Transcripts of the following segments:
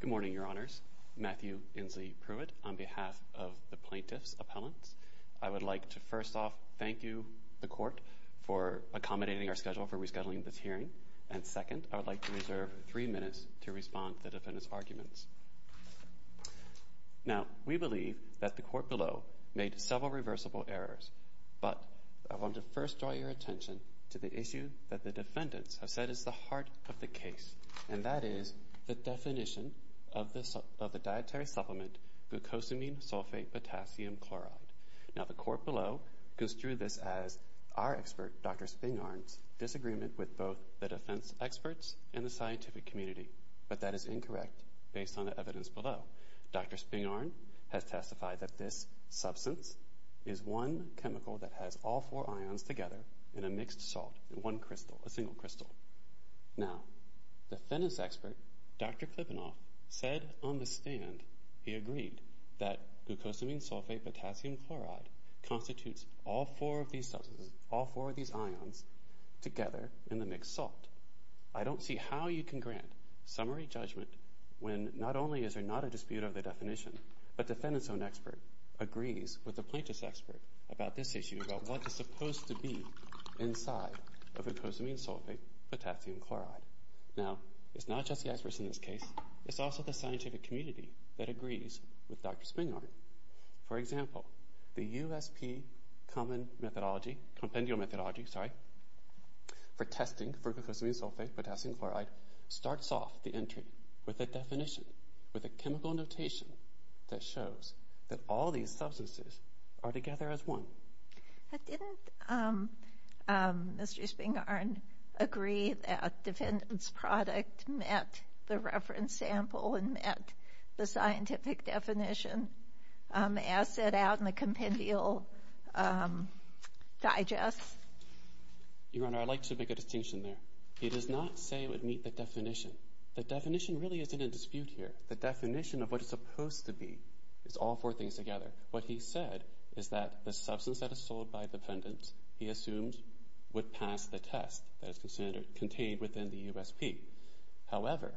Good morning, Your Honors. Matthew Inslee Pruitt on behalf of the Plaintiff's Appellants. I would like to first off thank you, the Court, for accommodating our schedule for rescheduling this hearing. And second, I would like to reserve three minutes to respond to the defendant's arguments. Now we believe that the Court below made several reversible errors, but I want to first draw your attention to the issue that the defendants have said is the heart of the case, and that is the definition of the dietary supplement glucosamine sulfate potassium chloride. Now the Court below goes through this as our expert, Dr. Spingarn's, disagreement with both the defense experts and the scientific community, but that is incorrect based on the evidence below. Dr. Spingarn has testified that this substance is one chemical that has all four ions together in a mixed salt, one crystal, a single crystal. Now the defendants' expert, Dr. Klippenhoff, said on the stand, he agreed, that glucosamine sulfate potassium chloride constitutes all four of these substances, all four of these ions together in the mixed salt. I don't see how you can grant summary judgment when not only is there not a dispute over the definition, but the defendants' own expert agrees with the plaintiff's expert about this issue, about what is supposed to be inside of glucosamine sulfate potassium chloride. Now it's not just the experts in this case, it's also the scientific community that agrees with Dr. Spingarn. For example, the USP Common Methodology, Compendium Methodology, sorry, for testing for glucosamine sulfate potassium chloride starts off the entry with a definition, with a chemical notation that shows that all these substances are together as one. But didn't Mr. Spingarn agree that defendants' product met the reference sample and met the asset out in the Compendium Digest? Your Honor, I'd like to make a distinction there. He does not say it would meet the definition. The definition really isn't in dispute here. The definition of what it's supposed to be is all four things together. What he said is that the substance that is sold by defendants, he assumed, would pass the test that is contained within the USP. However,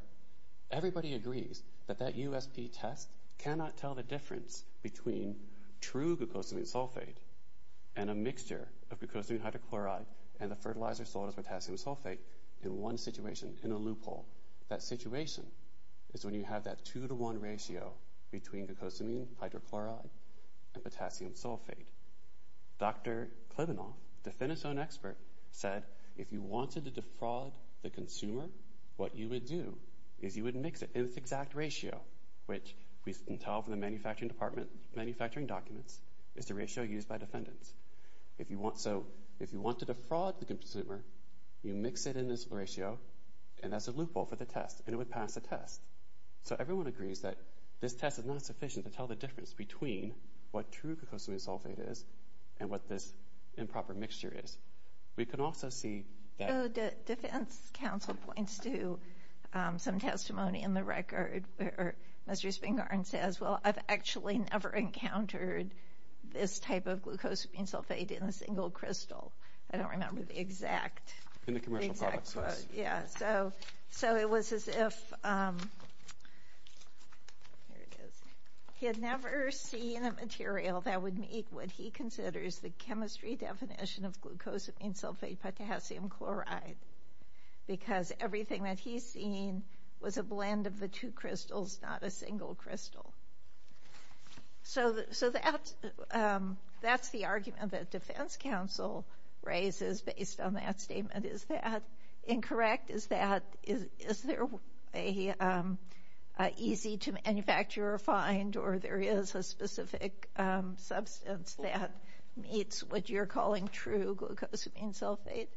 everybody agrees that that USP test cannot tell the difference between true glucosamine sulfate and a mixture of glucosamine hydrochloride and the fertilizer sold as potassium sulfate in one situation, in a loophole. That situation is when you have that two-to-one ratio between glucosamine hydrochloride and potassium sulfate. Dr. Klybenow, defendant's own expert, said, if you wanted to defraud the consumer, what you would do is you would mix it in this exact ratio, which we can tell from the manufacturing documents, is the ratio used by defendants. So if you want to defraud the consumer, you mix it in this ratio, and that's a loophole for the test, and it would pass the test. So everyone agrees that this test is not sufficient to tell the difference between what true glucosamine sulfate is and what this improper mixture is. We can also see that- The defense counsel points to some testimony in the record where Mr. Spingarn says, well, I've actually never encountered this type of glucosamine sulfate in a single crystal. I don't remember the exact- In the commercial products, yes. Yeah. So it was as if he had never seen a material that would meet what he considers the chemistry definition of glucosamine sulfate potassium chloride, because everything that he's seen was a blend of the two crystals, not a single crystal. So that's the argument that defense counsel raises based on that statement. Is that incorrect? Is there an easy-to-manufacture find, or there is a specific substance that meets what you're calling true glucosamine sulfate?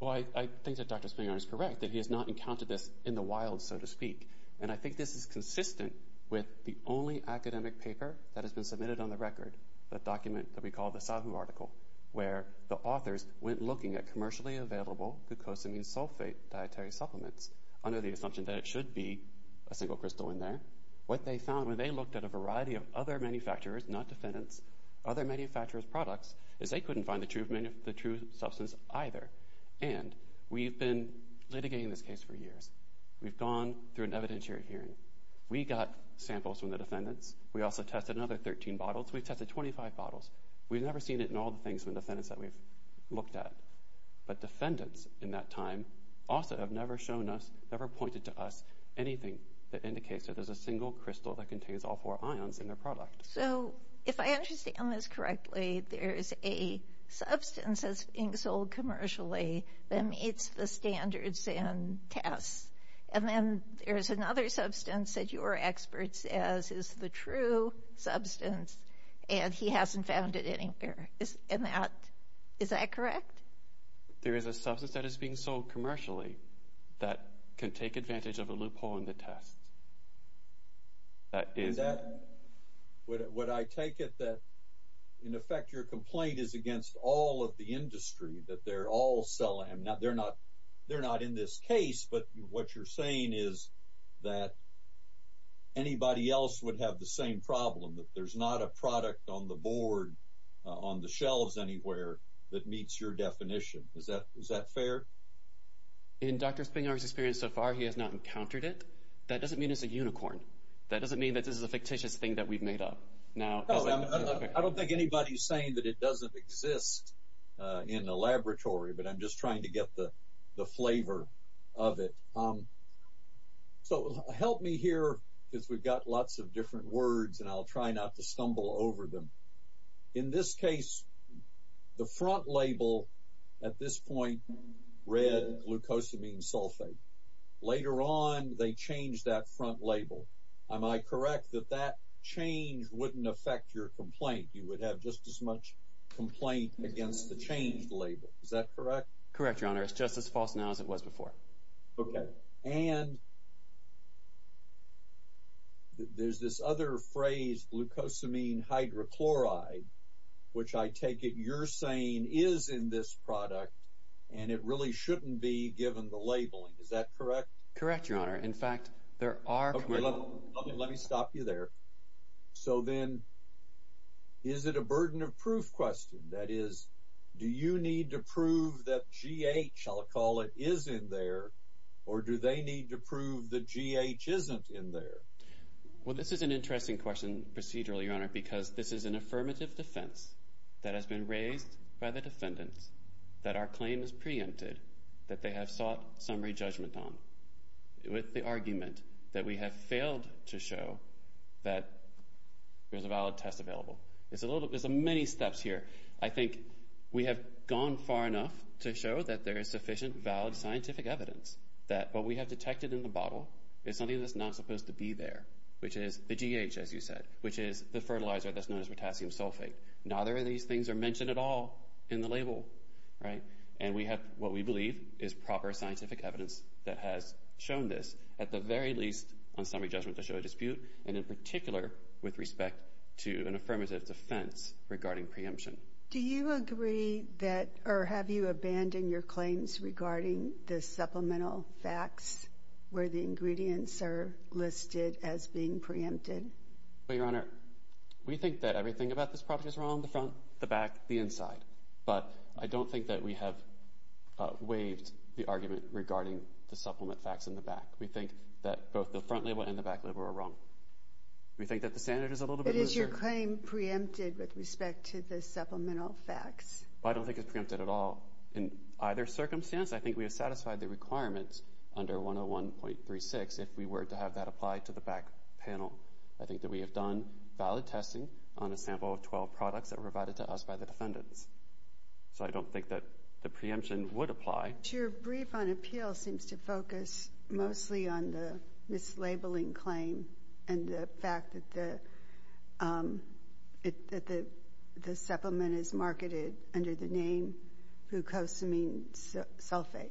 Well, I think that Dr. Spingarn is correct, that he has not encountered this in the wild, so to speak. And I think this is consistent with the only academic paper that has been submitted on the record, the document that we call the Savin article, where the authors went looking at commercially available glucosamine sulfate dietary supplements, under the assumption that it should be a single crystal in there. What they found when they looked at a variety of other manufacturers, not defendants, other manufacturers' products, is they couldn't find the true substance either. And we've been litigating this case for years. We've gone through an evidentiary hearing. We got samples from the defendants. We also tested another 13 bottles. We tested 25 bottles. We've never seen it in all the things from the defendants that we've looked at. But defendants, in that time, also have never shown us, never pointed to us, anything that indicates that there's a single crystal that contains all four ions in their product. So if I understand this correctly, there's a substance that's being sold commercially that meets the standards and tests, and then there's another substance that your expert says is the true substance, and he hasn't found it anywhere. Is that correct? There is a substance that is being sold commercially that can take advantage of a loophole in the test. Would I take it that, in effect, your complaint is against all of the industry, that they're all selling? They're not in this case, but what you're saying is that anybody else would have the same problem, that there's not a product on the board, on the shelves anywhere, that meets your definition. Is that fair? In Dr. Spingar's experience so far, he has not encountered it. That doesn't mean it's a unicorn. That doesn't mean that this is a fictitious thing that we've made up. I don't think anybody's saying that it doesn't exist in the laboratory, but I'm just trying to get the flavor of it. Help me here, because we've got lots of different words, and I'll try not to stumble over them. In this case, the front label at this point read glucosamine sulfate. Later on, they changed that front label. Am I correct that that change wouldn't affect your complaint? You would have just as much complaint against the changed label. Is that correct? Correct, Your Honor. It's just as false now as it was before. Okay. And there's this other phrase, glucosamine hydrochloride, which I take it you're saying is in this product, and it really shouldn't be given the label. Is that correct? Correct, Your Honor. In fact, there are... Okay, let me stop you there. So then is it a burden of proof question? That is, do you need to prove that GH, I'll call it, is in there, or do they need to prove that GH isn't in there? Well, this is an interesting question procedurally, Your Honor, because this is an affirmative defense that has been raised by the defendants that our claim is preempted, that they have sought summary judgment on, with the argument that we have failed to show that there's a valid test available. There's many steps here. I think we have gone far enough to show that there is sufficient, valid scientific evidence that what we have detected in the bottle is something that's not supposed to be there, which is the GH, as you said, which is the fertilizer that's known as potassium sulfate. Neither of these things are mentioned at all in the label, and we have what we believe is proper scientific evidence that has shown this, at the very least on summary judgment to show a dispute, and in particular with respect to an affirmative defense regarding preemption. Do you agree that, or have you abandoned your claims regarding the supplemental facts where the ingredients are listed as being preempted? Well, Your Honor, we think that everything about this product is wrong, the front, the back, the inside, but I don't think that we have waived the argument regarding the supplement facts in the back. We think that both the front label and the back label are wrong. We think that the standard is a little bit looser. But is your claim preempted with respect to the supplemental facts? I don't think it's preempted at all. In either circumstance, I think we have satisfied the requirements under 101.36 if we were to have that apply to the back panel. I think that we have done valid testing on a sample of 12 products that were provided to us by the defendants, so I don't think that the preemption would apply. Your brief on appeal seems to focus mostly on the mislabeling claim and the fact that the supplement is marketed under the name glucosamine sulfate.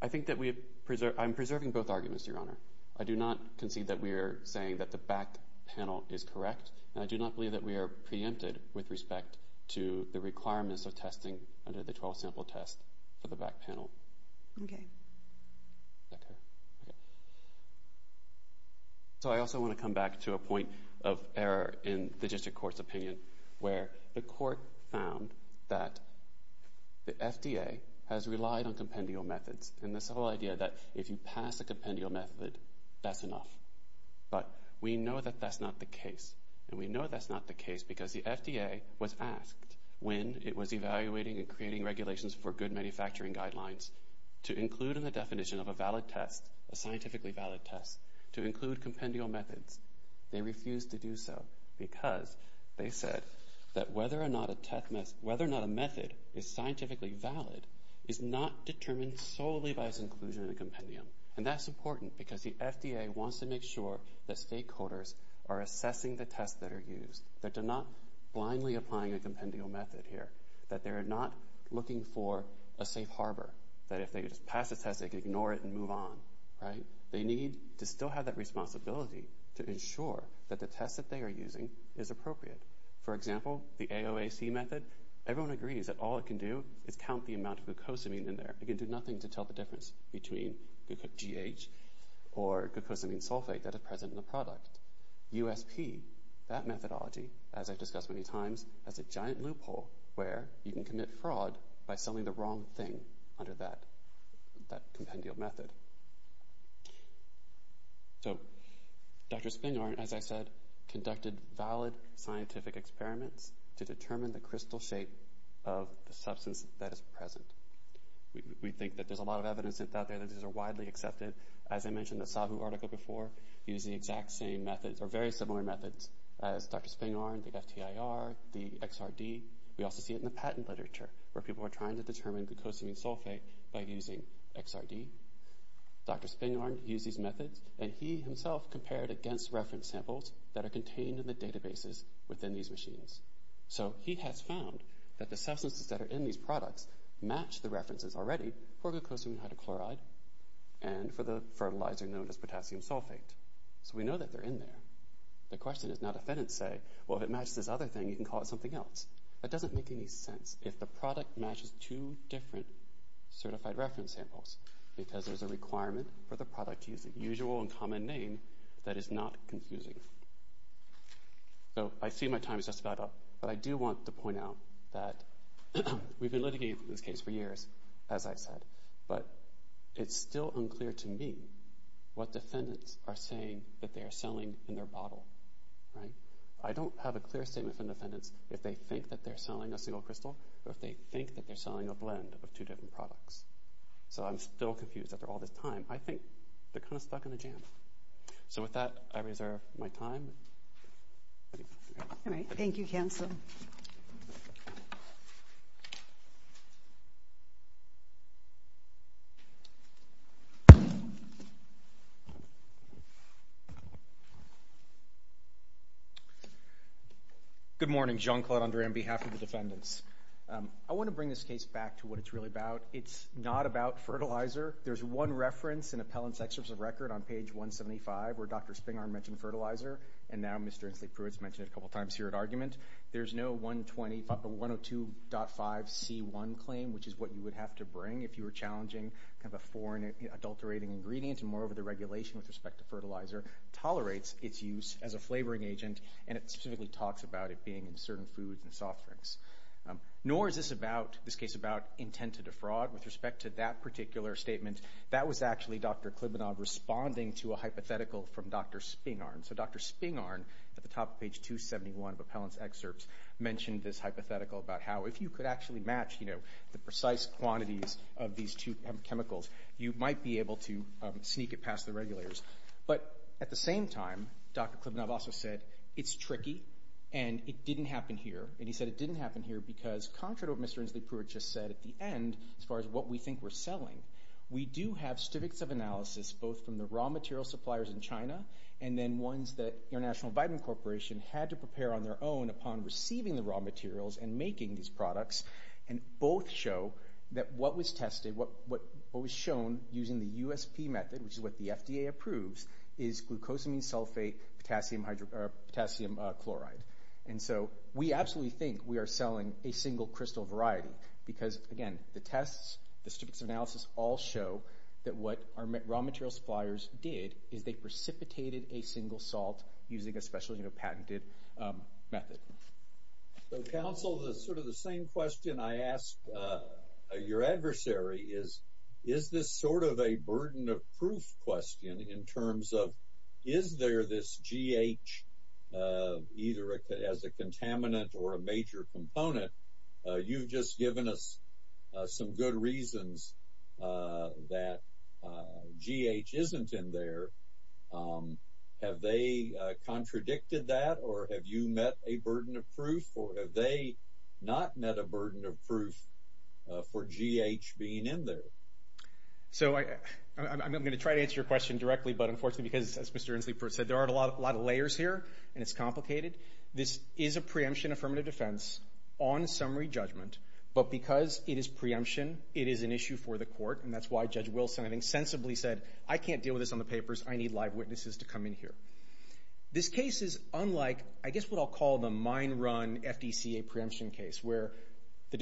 I think that we have—I'm preserving both arguments, Your Honor. I do not concede that we are saying that the back panel is correct, and I do not believe that we are preempted with respect to the requirements of testing under the 12-sample test for the back panel. Okay. Okay. Okay. So I also want to come back to a point of error in the district court's opinion, where the court found that the FDA has relied on compendial methods, and this whole idea that if you pass a compendial method, that's enough. But we know that that's not the case, and we know that's not the case because the FDA was asked, when it was evaluating and creating regulations for good manufacturing guidelines, to include in the definition of a valid test, a scientifically valid test, to include compendial methods. They refused to do so because they said that whether or not a method is scientifically valid is not determined solely by its inclusion in a compendium, and that's important because the FDA wants to make sure that stakeholders are assessing the tests that are used, that they're not blindly applying a compendial method here, that they're not looking for a safe harbor, that if they just pass a test, they can ignore it and move on, right? They need to still have that responsibility to ensure that the test that they are using is appropriate. For example, the AOAC method, everyone agrees that all it can do is count the amount of glucosamine in there. It can do nothing to tell the difference between GH or glucosamine sulfate that is present in the product. USP, that methodology, as I've discussed many times, has a giant loophole where you can commit fraud by selling the wrong thing under that compendial method. So, Dr. Spingarn, as I said, conducted valid scientific experiments to determine the crystal shape of the substance that is present. We think that there's a lot of evidence out there that these are widely accepted. As I mentioned in the Sabu article before, using the exact same methods, or very similar methods as Dr. Spingarn, the FTIR, the XRD, we also see it in the patent literature where people are trying to determine glucosamine sulfate by using XRD. Dr. Spingarn used these methods, and he himself compared against reference samples that are contained in the databases within these machines. So he has found that the substances that are in these products match the references already for glucosamine hydrochloride and for the fertilizer known as potassium sulfate. So we know that they're in there. The question is, now defendants say, well, if it matches this other thing, you can call it something else. That doesn't make any sense if the product matches two different certified reference samples because there's a requirement for the product to use a usual and common name that is not confusing. So I see my time is just about up, but I do want to point out that we've been litigating this case for years, as I said, but it's still unclear to me what defendants are saying that they are selling in their bottle. I don't have a clear statement from defendants if they think that they're selling a single crystal or if they think that they're selling a blend of two different products. So I'm still confused after all this time. I think they're kind of stuck in a jam. So with that, I reserve my time. All right. Thank you, counsel. Good morning. John Claude, on behalf of the defendants. I want to bring this case back to what it's really about. It's not about fertilizer. There's one reference in Appellant's Excerpt of Record on page 175 where Dr. Spingarn mentioned fertilizer and now Mr. Inslee-Pruitt's mentioned it a couple times here at argument. There's no 102.5C1 claim, which is what you would have to bring if you were challenging kind of a foreign, adulterating ingredient, and moreover, the regulation with respect to fertilizer tolerates its use as a flavoring agent, and it specifically talks about it being in certain foods and soft drinks. Nor is this case about intent to defraud with respect to that particular statement. That was actually Dr. Klybanov responding to a hypothetical from Dr. Spingarn. So Dr. Spingarn, at the top of page 271 of Appellant's Excerpt, mentioned this hypothetical about how if you could actually match the precise quantities of these two chemicals, you might be able to sneak it past the regulators. But at the same time, Dr. Klybanov also said it's tricky and it didn't happen here. And he said it didn't happen here because, contrary to what Mr. Inslee-Pruitt just said at the end, as far as what we think we're selling, we do have specifics of analysis both from the raw material suppliers in China and then ones that International Vitamin Corporation had to prepare on their own upon receiving the raw materials and making these products, and both show that what was tested, what was shown using the USP method, which is what the FDA approves, is glucosamine sulfate potassium chloride. And so we absolutely think we are selling a single crystal variety because, again, the tests, the specifics of analysis all show that what our raw material suppliers did is they precipitated a single salt using a specially patented method. So, counsel, sort of the same question I asked your adversary is, is this sort of a burden of proof question in terms of, is there this GH either as a contaminant or a major component? You've just given us some good reasons that GH isn't in there. Have they contradicted that, or have you met a burden of proof, or have they not met a burden of proof for GH being in there? So I'm going to try to answer your question directly, but unfortunately, because, as Mr. Inslee said, there aren't a lot of layers here, and it's complicated. This is a preemption affirmative defense on summary judgment, but because it is preemption, it is an issue for the court, and that's why Judge Wilson, I think, sensibly said, I can't deal with this on the papers. I need live witnesses to come in here. This case is unlike, I guess, what I'll call the mine run FDCA preemption case, where the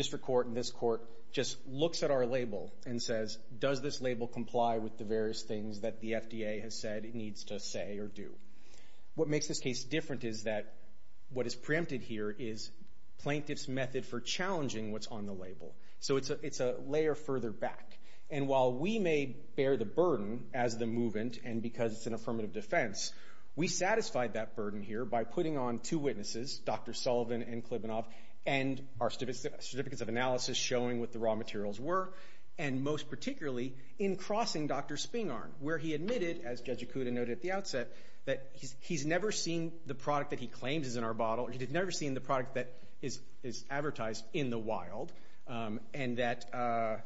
does this label comply with the various things that the FDA has said it needs to say or do. What makes this case different is that what is preempted here is plaintiff's method for challenging what's on the label, so it's a layer further back, and while we may bear the burden as the movement, and because it's an affirmative defense, we satisfied that burden here by putting on two witnesses, Dr. Sullivan and Klybanoff, and our certificates of analysis showing what the raw materials were, and most particularly in crossing Dr. Spingarn, where he admitted, as Judge Ikuda noted at the outset, that he's never seen the product that he claims is in our bottle, or he's never seen the product that is advertised in the wild, and that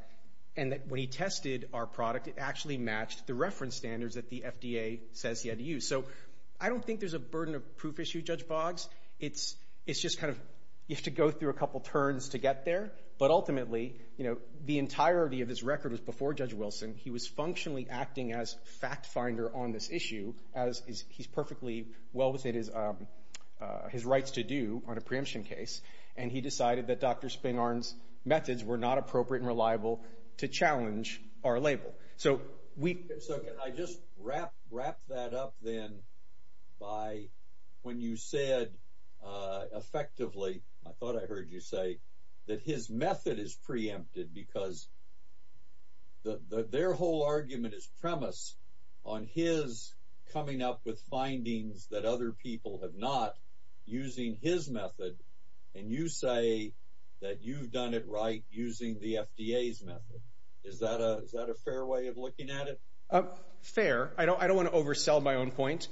when he tested our product, it actually matched the reference standards that the FDA says he had to use, so I don't think there's a burden of proof issue, Judge Boggs. It's just kind of, you have to go through a couple turns to get there, but ultimately, you know, the entirety of this record was before Judge Wilson. He was functionally acting as fact finder on this issue, as he's perfectly well within his rights to do on a preemption case, and he decided that Dr. Spingarn's methods were not appropriate and reliable to challenge our label. So, can I just wrap that up, then, by when you said effectively, I thought I heard you say that his method is preempted because their whole argument is premise on his coming up with findings that other people have not, using his method, and you say that you've done it right using the FDA's method. Is that a fair way of looking at it? Fair. I don't want to oversell my own point.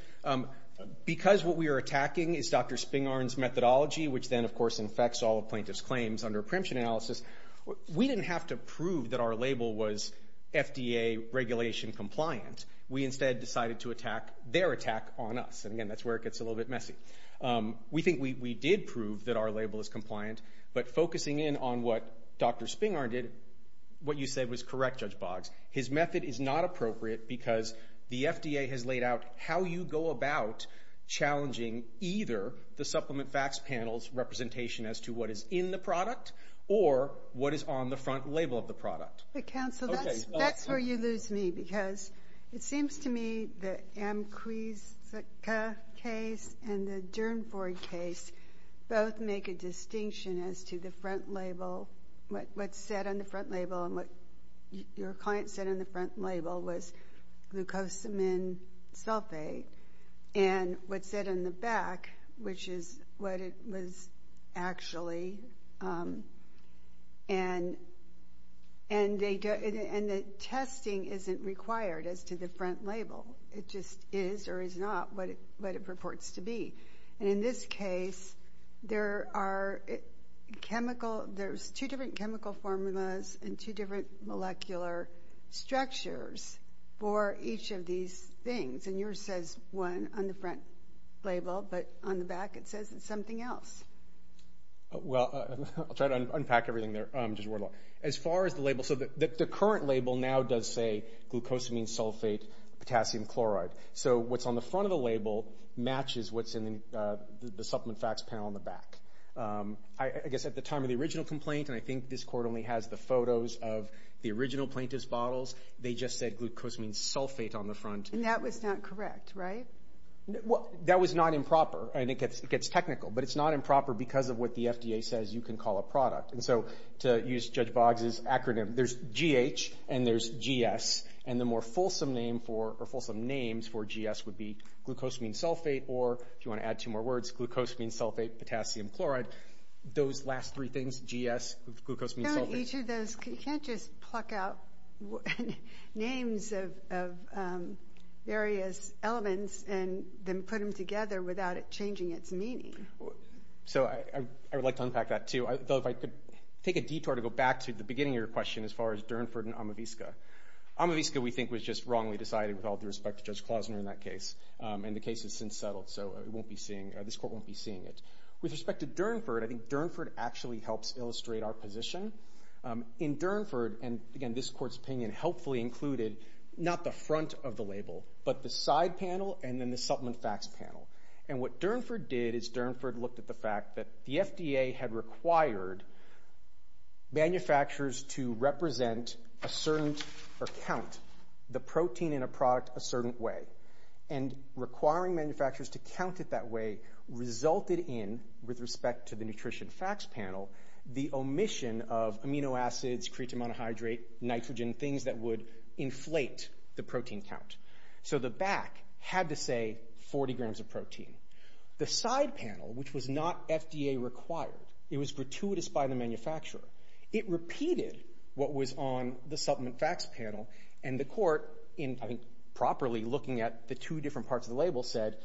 Because what we are attacking is Dr. Spingarn's methodology, which then, of course, infects all of plaintiff's claims under preemption analysis, we didn't have to prove that our label was FDA regulation compliant. We instead decided to attack their attack on us, and again, that's where it gets a little bit messy. We think we did prove that our label is compliant, but focusing in on what Dr. Spingarn did, what you said was correct, Judge Boggs, his method is not appropriate because the FDA has laid out how you go about challenging either the Supplement Facts Panel's representation as to what is in the product, or what is on the front label of the product. But, counsel, that's where you lose me, because it seems to me that the Amquisica case and the Durnford case both make a distinction as to the front label, what's set on the front label, and what your client said on the front label was glucosamine sulfate, and what's set on the back, which is what it was actually, and the testing isn't required as to the front label. It just is or is not what it purports to be. And in this case, there are chemical, there's two different chemical formulas and two different molecular structures for each of these things, and yours says one on the front label, but on the back it says it's something else. Well, I'll try to unpack everything there, Judge Wardlaw. As far as the label, so the current label now does say glucosamine sulfate, potassium chloride, so what's on the front of the label matches what's in the supplement facts panel on the back. I guess at the time of the original complaint, and I think this court only has the photos of the original plaintiff's bottles, they just said glucosamine sulfate on the front. And that was not correct, right? That was not improper, and it gets technical, but it's not improper because of what the FDA says you can call a product. And so, to use Judge Boggs' acronym, there's GH and there's GS, and the more fulsome name for GS would be glucosamine sulfate, or if you want to add two more words, glucosamine sulfate, potassium chloride. Those last three things, GS, glucosamine sulfate. So in each of those, you can't just pluck out names of various elements and then put them together without it changing its meaning. So I would like to unpack that, too, though if I could take a detour to go back to the beginning of your question as far as Durnford and Amavisca. Amavisca, we think, was just wrongly decided with all due respect to Judge Klausner in that case, and the case has since settled, so this court won't be seeing it. With respect to Durnford, I think Durnford actually helps illustrate our position. In Durnford, and again, this court's opinion helpfully included not the front of the label, but the side panel and then the supplement facts panel. And what Durnford did is Durnford looked at the fact that the FDA had required manufacturers to represent a certain or count the protein in a product a certain way and requiring manufacturers to count it that way resulted in, with respect to the nutrition facts panel, the omission of amino acids, creatine monohydrate, nitrogen, things that would inflate the protein count. So the back had to say 40 grams of protein. The side panel, which was not FDA required, it was gratuitous by the manufacturer. It repeated what was on the supplement facts panel, and the court, in properly looking at the two different parts of the label, said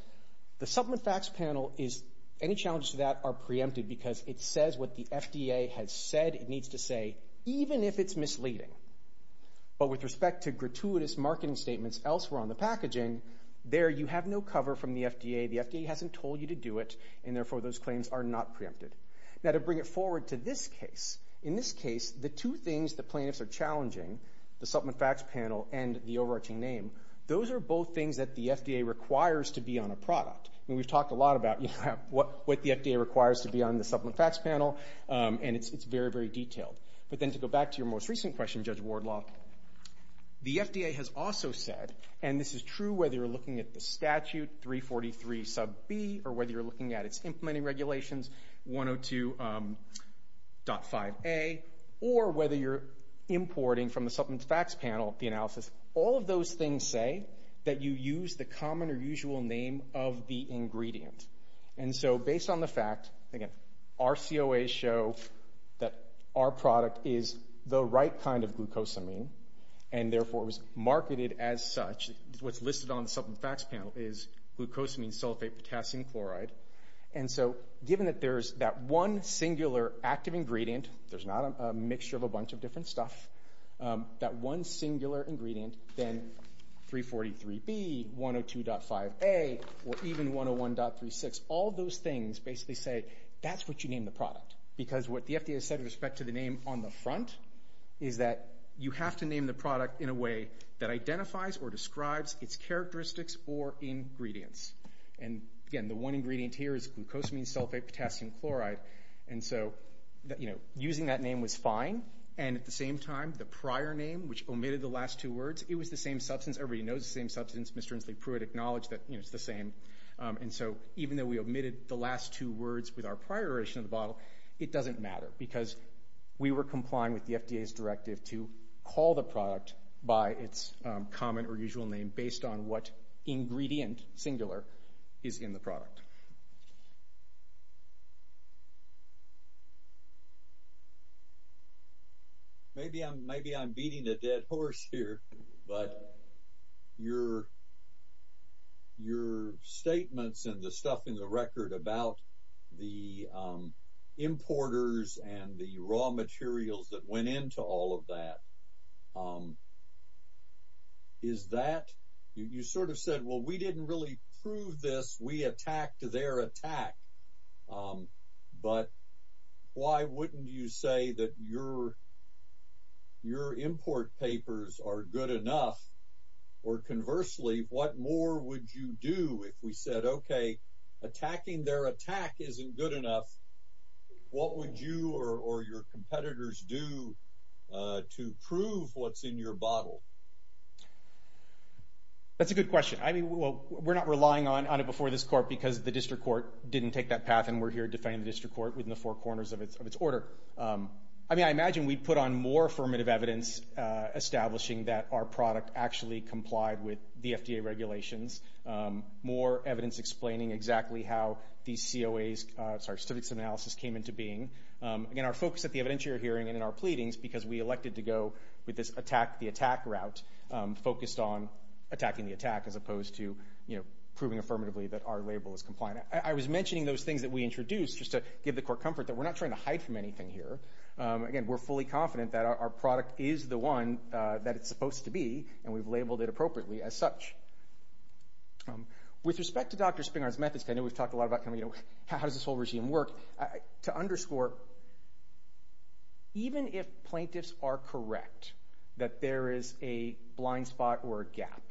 the supplement facts panel is, any challenges to that are preempted because it says what the FDA has said it needs to say, even if it's misleading. But with respect to gratuitous marketing statements elsewhere on the packaging, there you have no cover from the FDA. The FDA hasn't told you to do it, and therefore those claims are not preempted. Now, to bring it forward to this case, in this case, the two things the plaintiffs are challenging, the supplement facts panel and the overarching name, those are both things that the FDA requires to be on a product. We've talked a lot about what the FDA requires to be on the supplement facts panel, and it's very, very detailed. But then to go back to your most recent question, Judge Wardlaw, the FDA has also said, and this is true whether you're looking at the statute, 343 sub B, or whether you're looking at its implementing regulations, 102.5A, or whether you're importing from the supplement facts panel, the analysis, all of those things say that you use the common or usual name of the ingredient. And so based on the fact, again, our COAs show that our product is the right kind of glucosamine, and therefore it was marketed as such. What's listed on the supplement facts panel is glucosamine sulfate potassium chloride. And so given that there's that one singular active ingredient, there's not a mixture of a bunch of different stuff, that one singular ingredient, then 343B, 102.5A, or even 101.36, all those things basically say, that's what you name the product. Because what the FDA has said with respect to the name on the front is that you have to name the product in a way that identifies or describes its characteristics or ingredients. And again, the one ingredient here is glucosamine sulfate potassium chloride, and so using that name was fine, and at the same time, the prior name, which omitted the last two words, it was the same substance. Everybody knows the same substance. Mr. Inslee Pruitt acknowledged that it's the same. And so even though we omitted the last two words with our prior iteration of the bottle, it doesn't matter because we were complying with the FDA's directive to call the product by its common or usual name based on what ingredient, singular, is in the product. Maybe I'm beating a dead horse here, but your statements and the stuff in the record about the importers and the raw materials that went into all of that, is that, you sort of said, well, we didn't really prove this, we attacked their attack, but why wouldn't you say that your import papers are good enough, or conversely, what more would you do if we said, okay, attacking their attack isn't good enough, what would you or your competitors do to prove what's in your bottle? That's a good question. I mean, we're not relying on it before this court because the district court didn't take that path and we're here defending the district court within the four corners of its order. I mean, I imagine we'd put on more affirmative evidence establishing that our product actually complied with the FDA regulations, more evidence explaining exactly how these COAs, sorry, specifics of analysis came into being. Again, our focus at the evidentiary hearing and in our pleadings because we elected to go with this attack the attack route focused on attacking the attack as opposed to proving affirmatively that our label is compliant. I was mentioning those things that we introduced just to give the court comfort that we're not trying to hide from anything here. Again, we're fully confident that our product is the one that it's supposed to be and we've such. With respect to Dr. Springer's methods, I know we've talked a lot about how does this whole regime work, to underscore, even if plaintiffs are correct that there is a blind spot or a gap,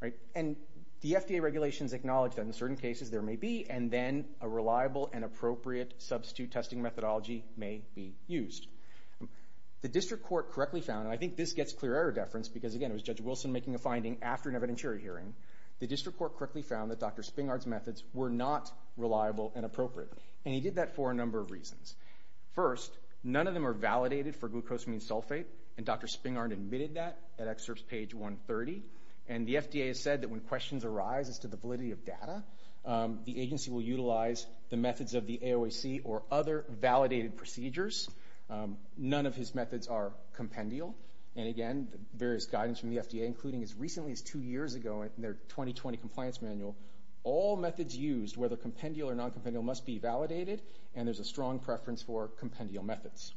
right? And the FDA regulations acknowledge that in certain cases there may be and then a reliable and appropriate substitute testing methodology may be used. The district court correctly found, and I think this gets clear error deference because it was Judge Wilson making a finding after an evidentiary hearing, the district court correctly found that Dr. Springer's methods were not reliable and appropriate. And he did that for a number of reasons. First, none of them are validated for glucosamine sulfate and Dr. Springer admitted that at excerpts page 130. And the FDA has said that when questions arise as to the validity of data, the agency will utilize the methods of the AOAC or other validated procedures. None of his methods are compendial. And again, various guidance from the FDA, including as recently as two years ago in their 2020 compliance manual, all methods used, whether compendial or non-compendial must be validated. And there's a strong preference for compendial methods.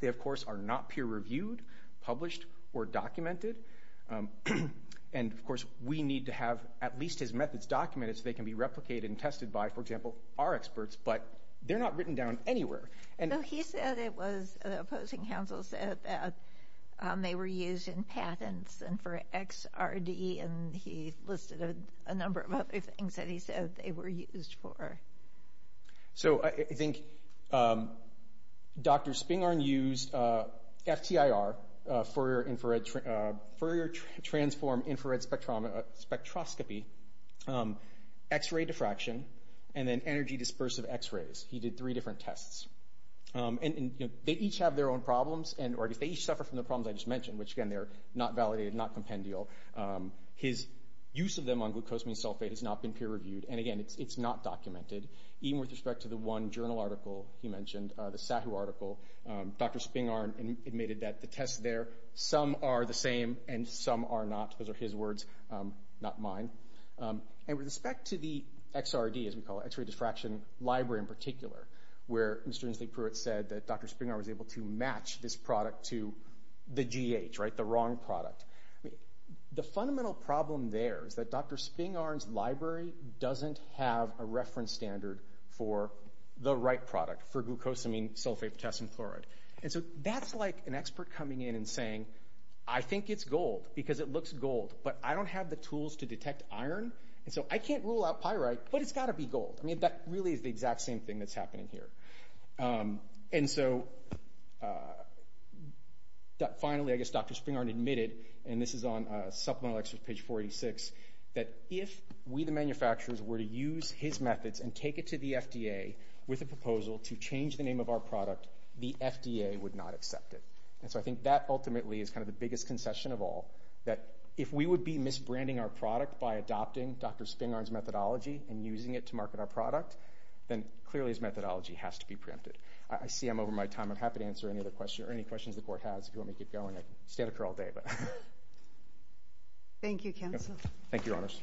They, of course, are not peer reviewed, published or documented. And of course, we need to have at least his methods documented so they can be replicated and tested by, for example, our experts, but they're not written down anywhere. And he said it was, the opposing counsel said that they were used in patents and for XRD and he listed a number of other things that he said they were used for. So I think Dr. Springer used FTIR, Fourier Transform Infrared Spectroscopy, X-ray diffraction and then energy dispersive X-rays. He did three different tests. And they each have their own problems and they each suffer from the problems I just mentioned, which again, they're not validated, not compendial. His use of them on glucosamine sulfate has not been peer reviewed. And again, it's not documented, even with respect to the one journal article he mentioned, the SAHU article, Dr. Springer admitted that the tests there, some are the same and some are not. Those are his words, not mine. And with respect to the XRD, as we call it, X-ray diffraction library in particular, where Mr. Inslee Pruitt said that Dr. Springer was able to match this product to the GH, right? The wrong product. The fundamental problem there is that Dr. Springer's library doesn't have a reference standard for the right product for glucosamine sulfate potassium chloride. And so that's like an expert coming in and saying, I think it's gold because it looks gold, but I don't have the tools to detect iron. And so I can't rule out pyrite, but it's got to be gold. I mean, that really is the exact same thing that's happening here. And so finally, I guess Dr. Springer admitted, and this is on Supplemental Excerpt, page 486, that if we, the manufacturers, were to use his methods and take it to the FDA with a proposal to change the name of our product, the FDA would not accept it. And so I think that ultimately is kind of the biggest concession of all, that if we would be misbranding our product by adopting Dr. Springer's methodology and using it to I see I'm over my time. I'm happy to answer any other questions, or any questions the Court has. If you want me to keep going, I could stand up here all day. Thank you, counsel. Thank you, Your Honors.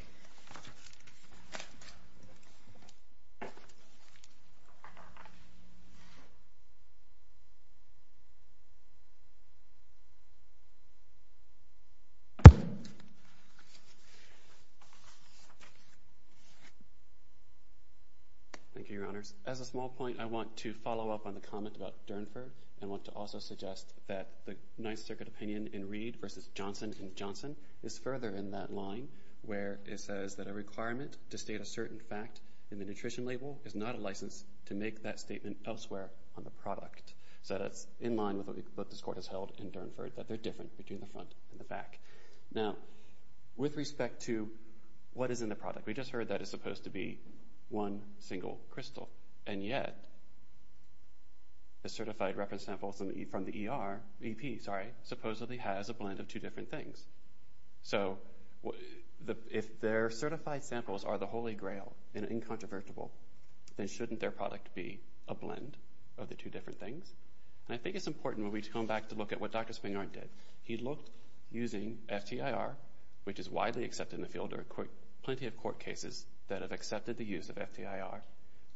Thank you, Your Honors. As a small point, I want to follow up on the comment about Durnford. I want to also suggest that the Ninth Circuit opinion in Reed versus Johnson and Johnson is further in that line, where it says that a requirement to state a certain fact in the nutrition label is not a license to make that statement elsewhere on the product. So that's in line with what this Court has held in Durnford, that they're different between the front and the back. Now, with respect to what is in the product, we just heard that it's supposed to be one single crystal. And yet, the certified reference samples from the ER, EP, sorry, supposedly has a blend of two different things. So if their certified samples are the holy grail and incontrovertible, then shouldn't their product be a blend of the two different things? And I think it's important when we come back to look at what Dr. Springer did. He looked using FTIR, which is widely accepted in the field. Plenty of court cases that have accepted the use of FTIR.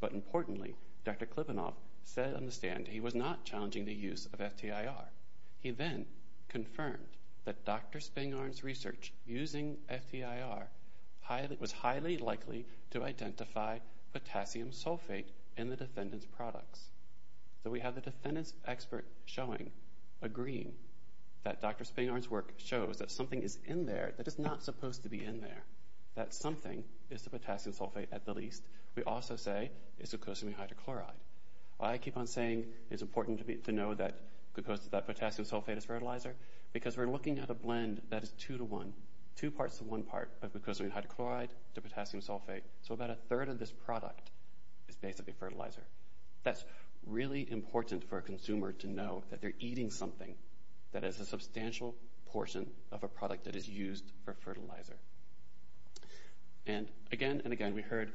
But importantly, Dr. Klivenov said on the stand he was not challenging the use of FTIR. He then confirmed that Dr. Springer's research using FTIR was highly likely to identify potassium sulfate in the defendant's products. So we have the defendant's expert agreeing that Dr. Springer's work shows that something is in there that is not supposed to be in there. That something is the potassium sulfate, at the least. We also say it's glucosamine hydrochloride. Why I keep on saying it's important to know that potassium sulfate is fertilizer? Because we're looking at a blend that is two to one. Two parts to one part of glucosamine hydrochloride to potassium sulfate. So about a third of this product is basically fertilizer. That's really important for a consumer to know that they're eating something that is a substantial portion of a product that is used for fertilizer. And again and again, we heard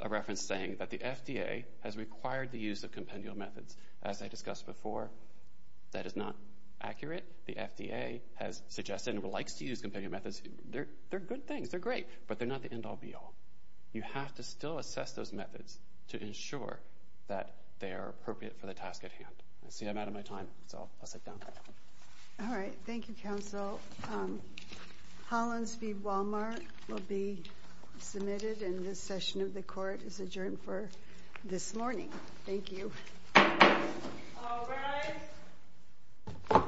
a reference saying that the FDA has required the use of compendial methods. As I discussed before, that is not accurate. The FDA has suggested and likes to use compendial methods. They're good things. They're great. But they're not the end all be all. You have to still assess those methods to ensure that they are appropriate for the task at hand. I see I'm out of my time, so I'll sit down. All right. Thank you, Counsel. Hollins v. Walmart will be submitted. And this session of the court is adjourned for this morning. Thank you. All rise.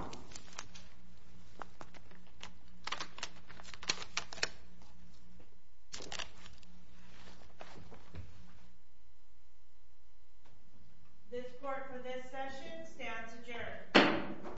This court for this session stands adjourned.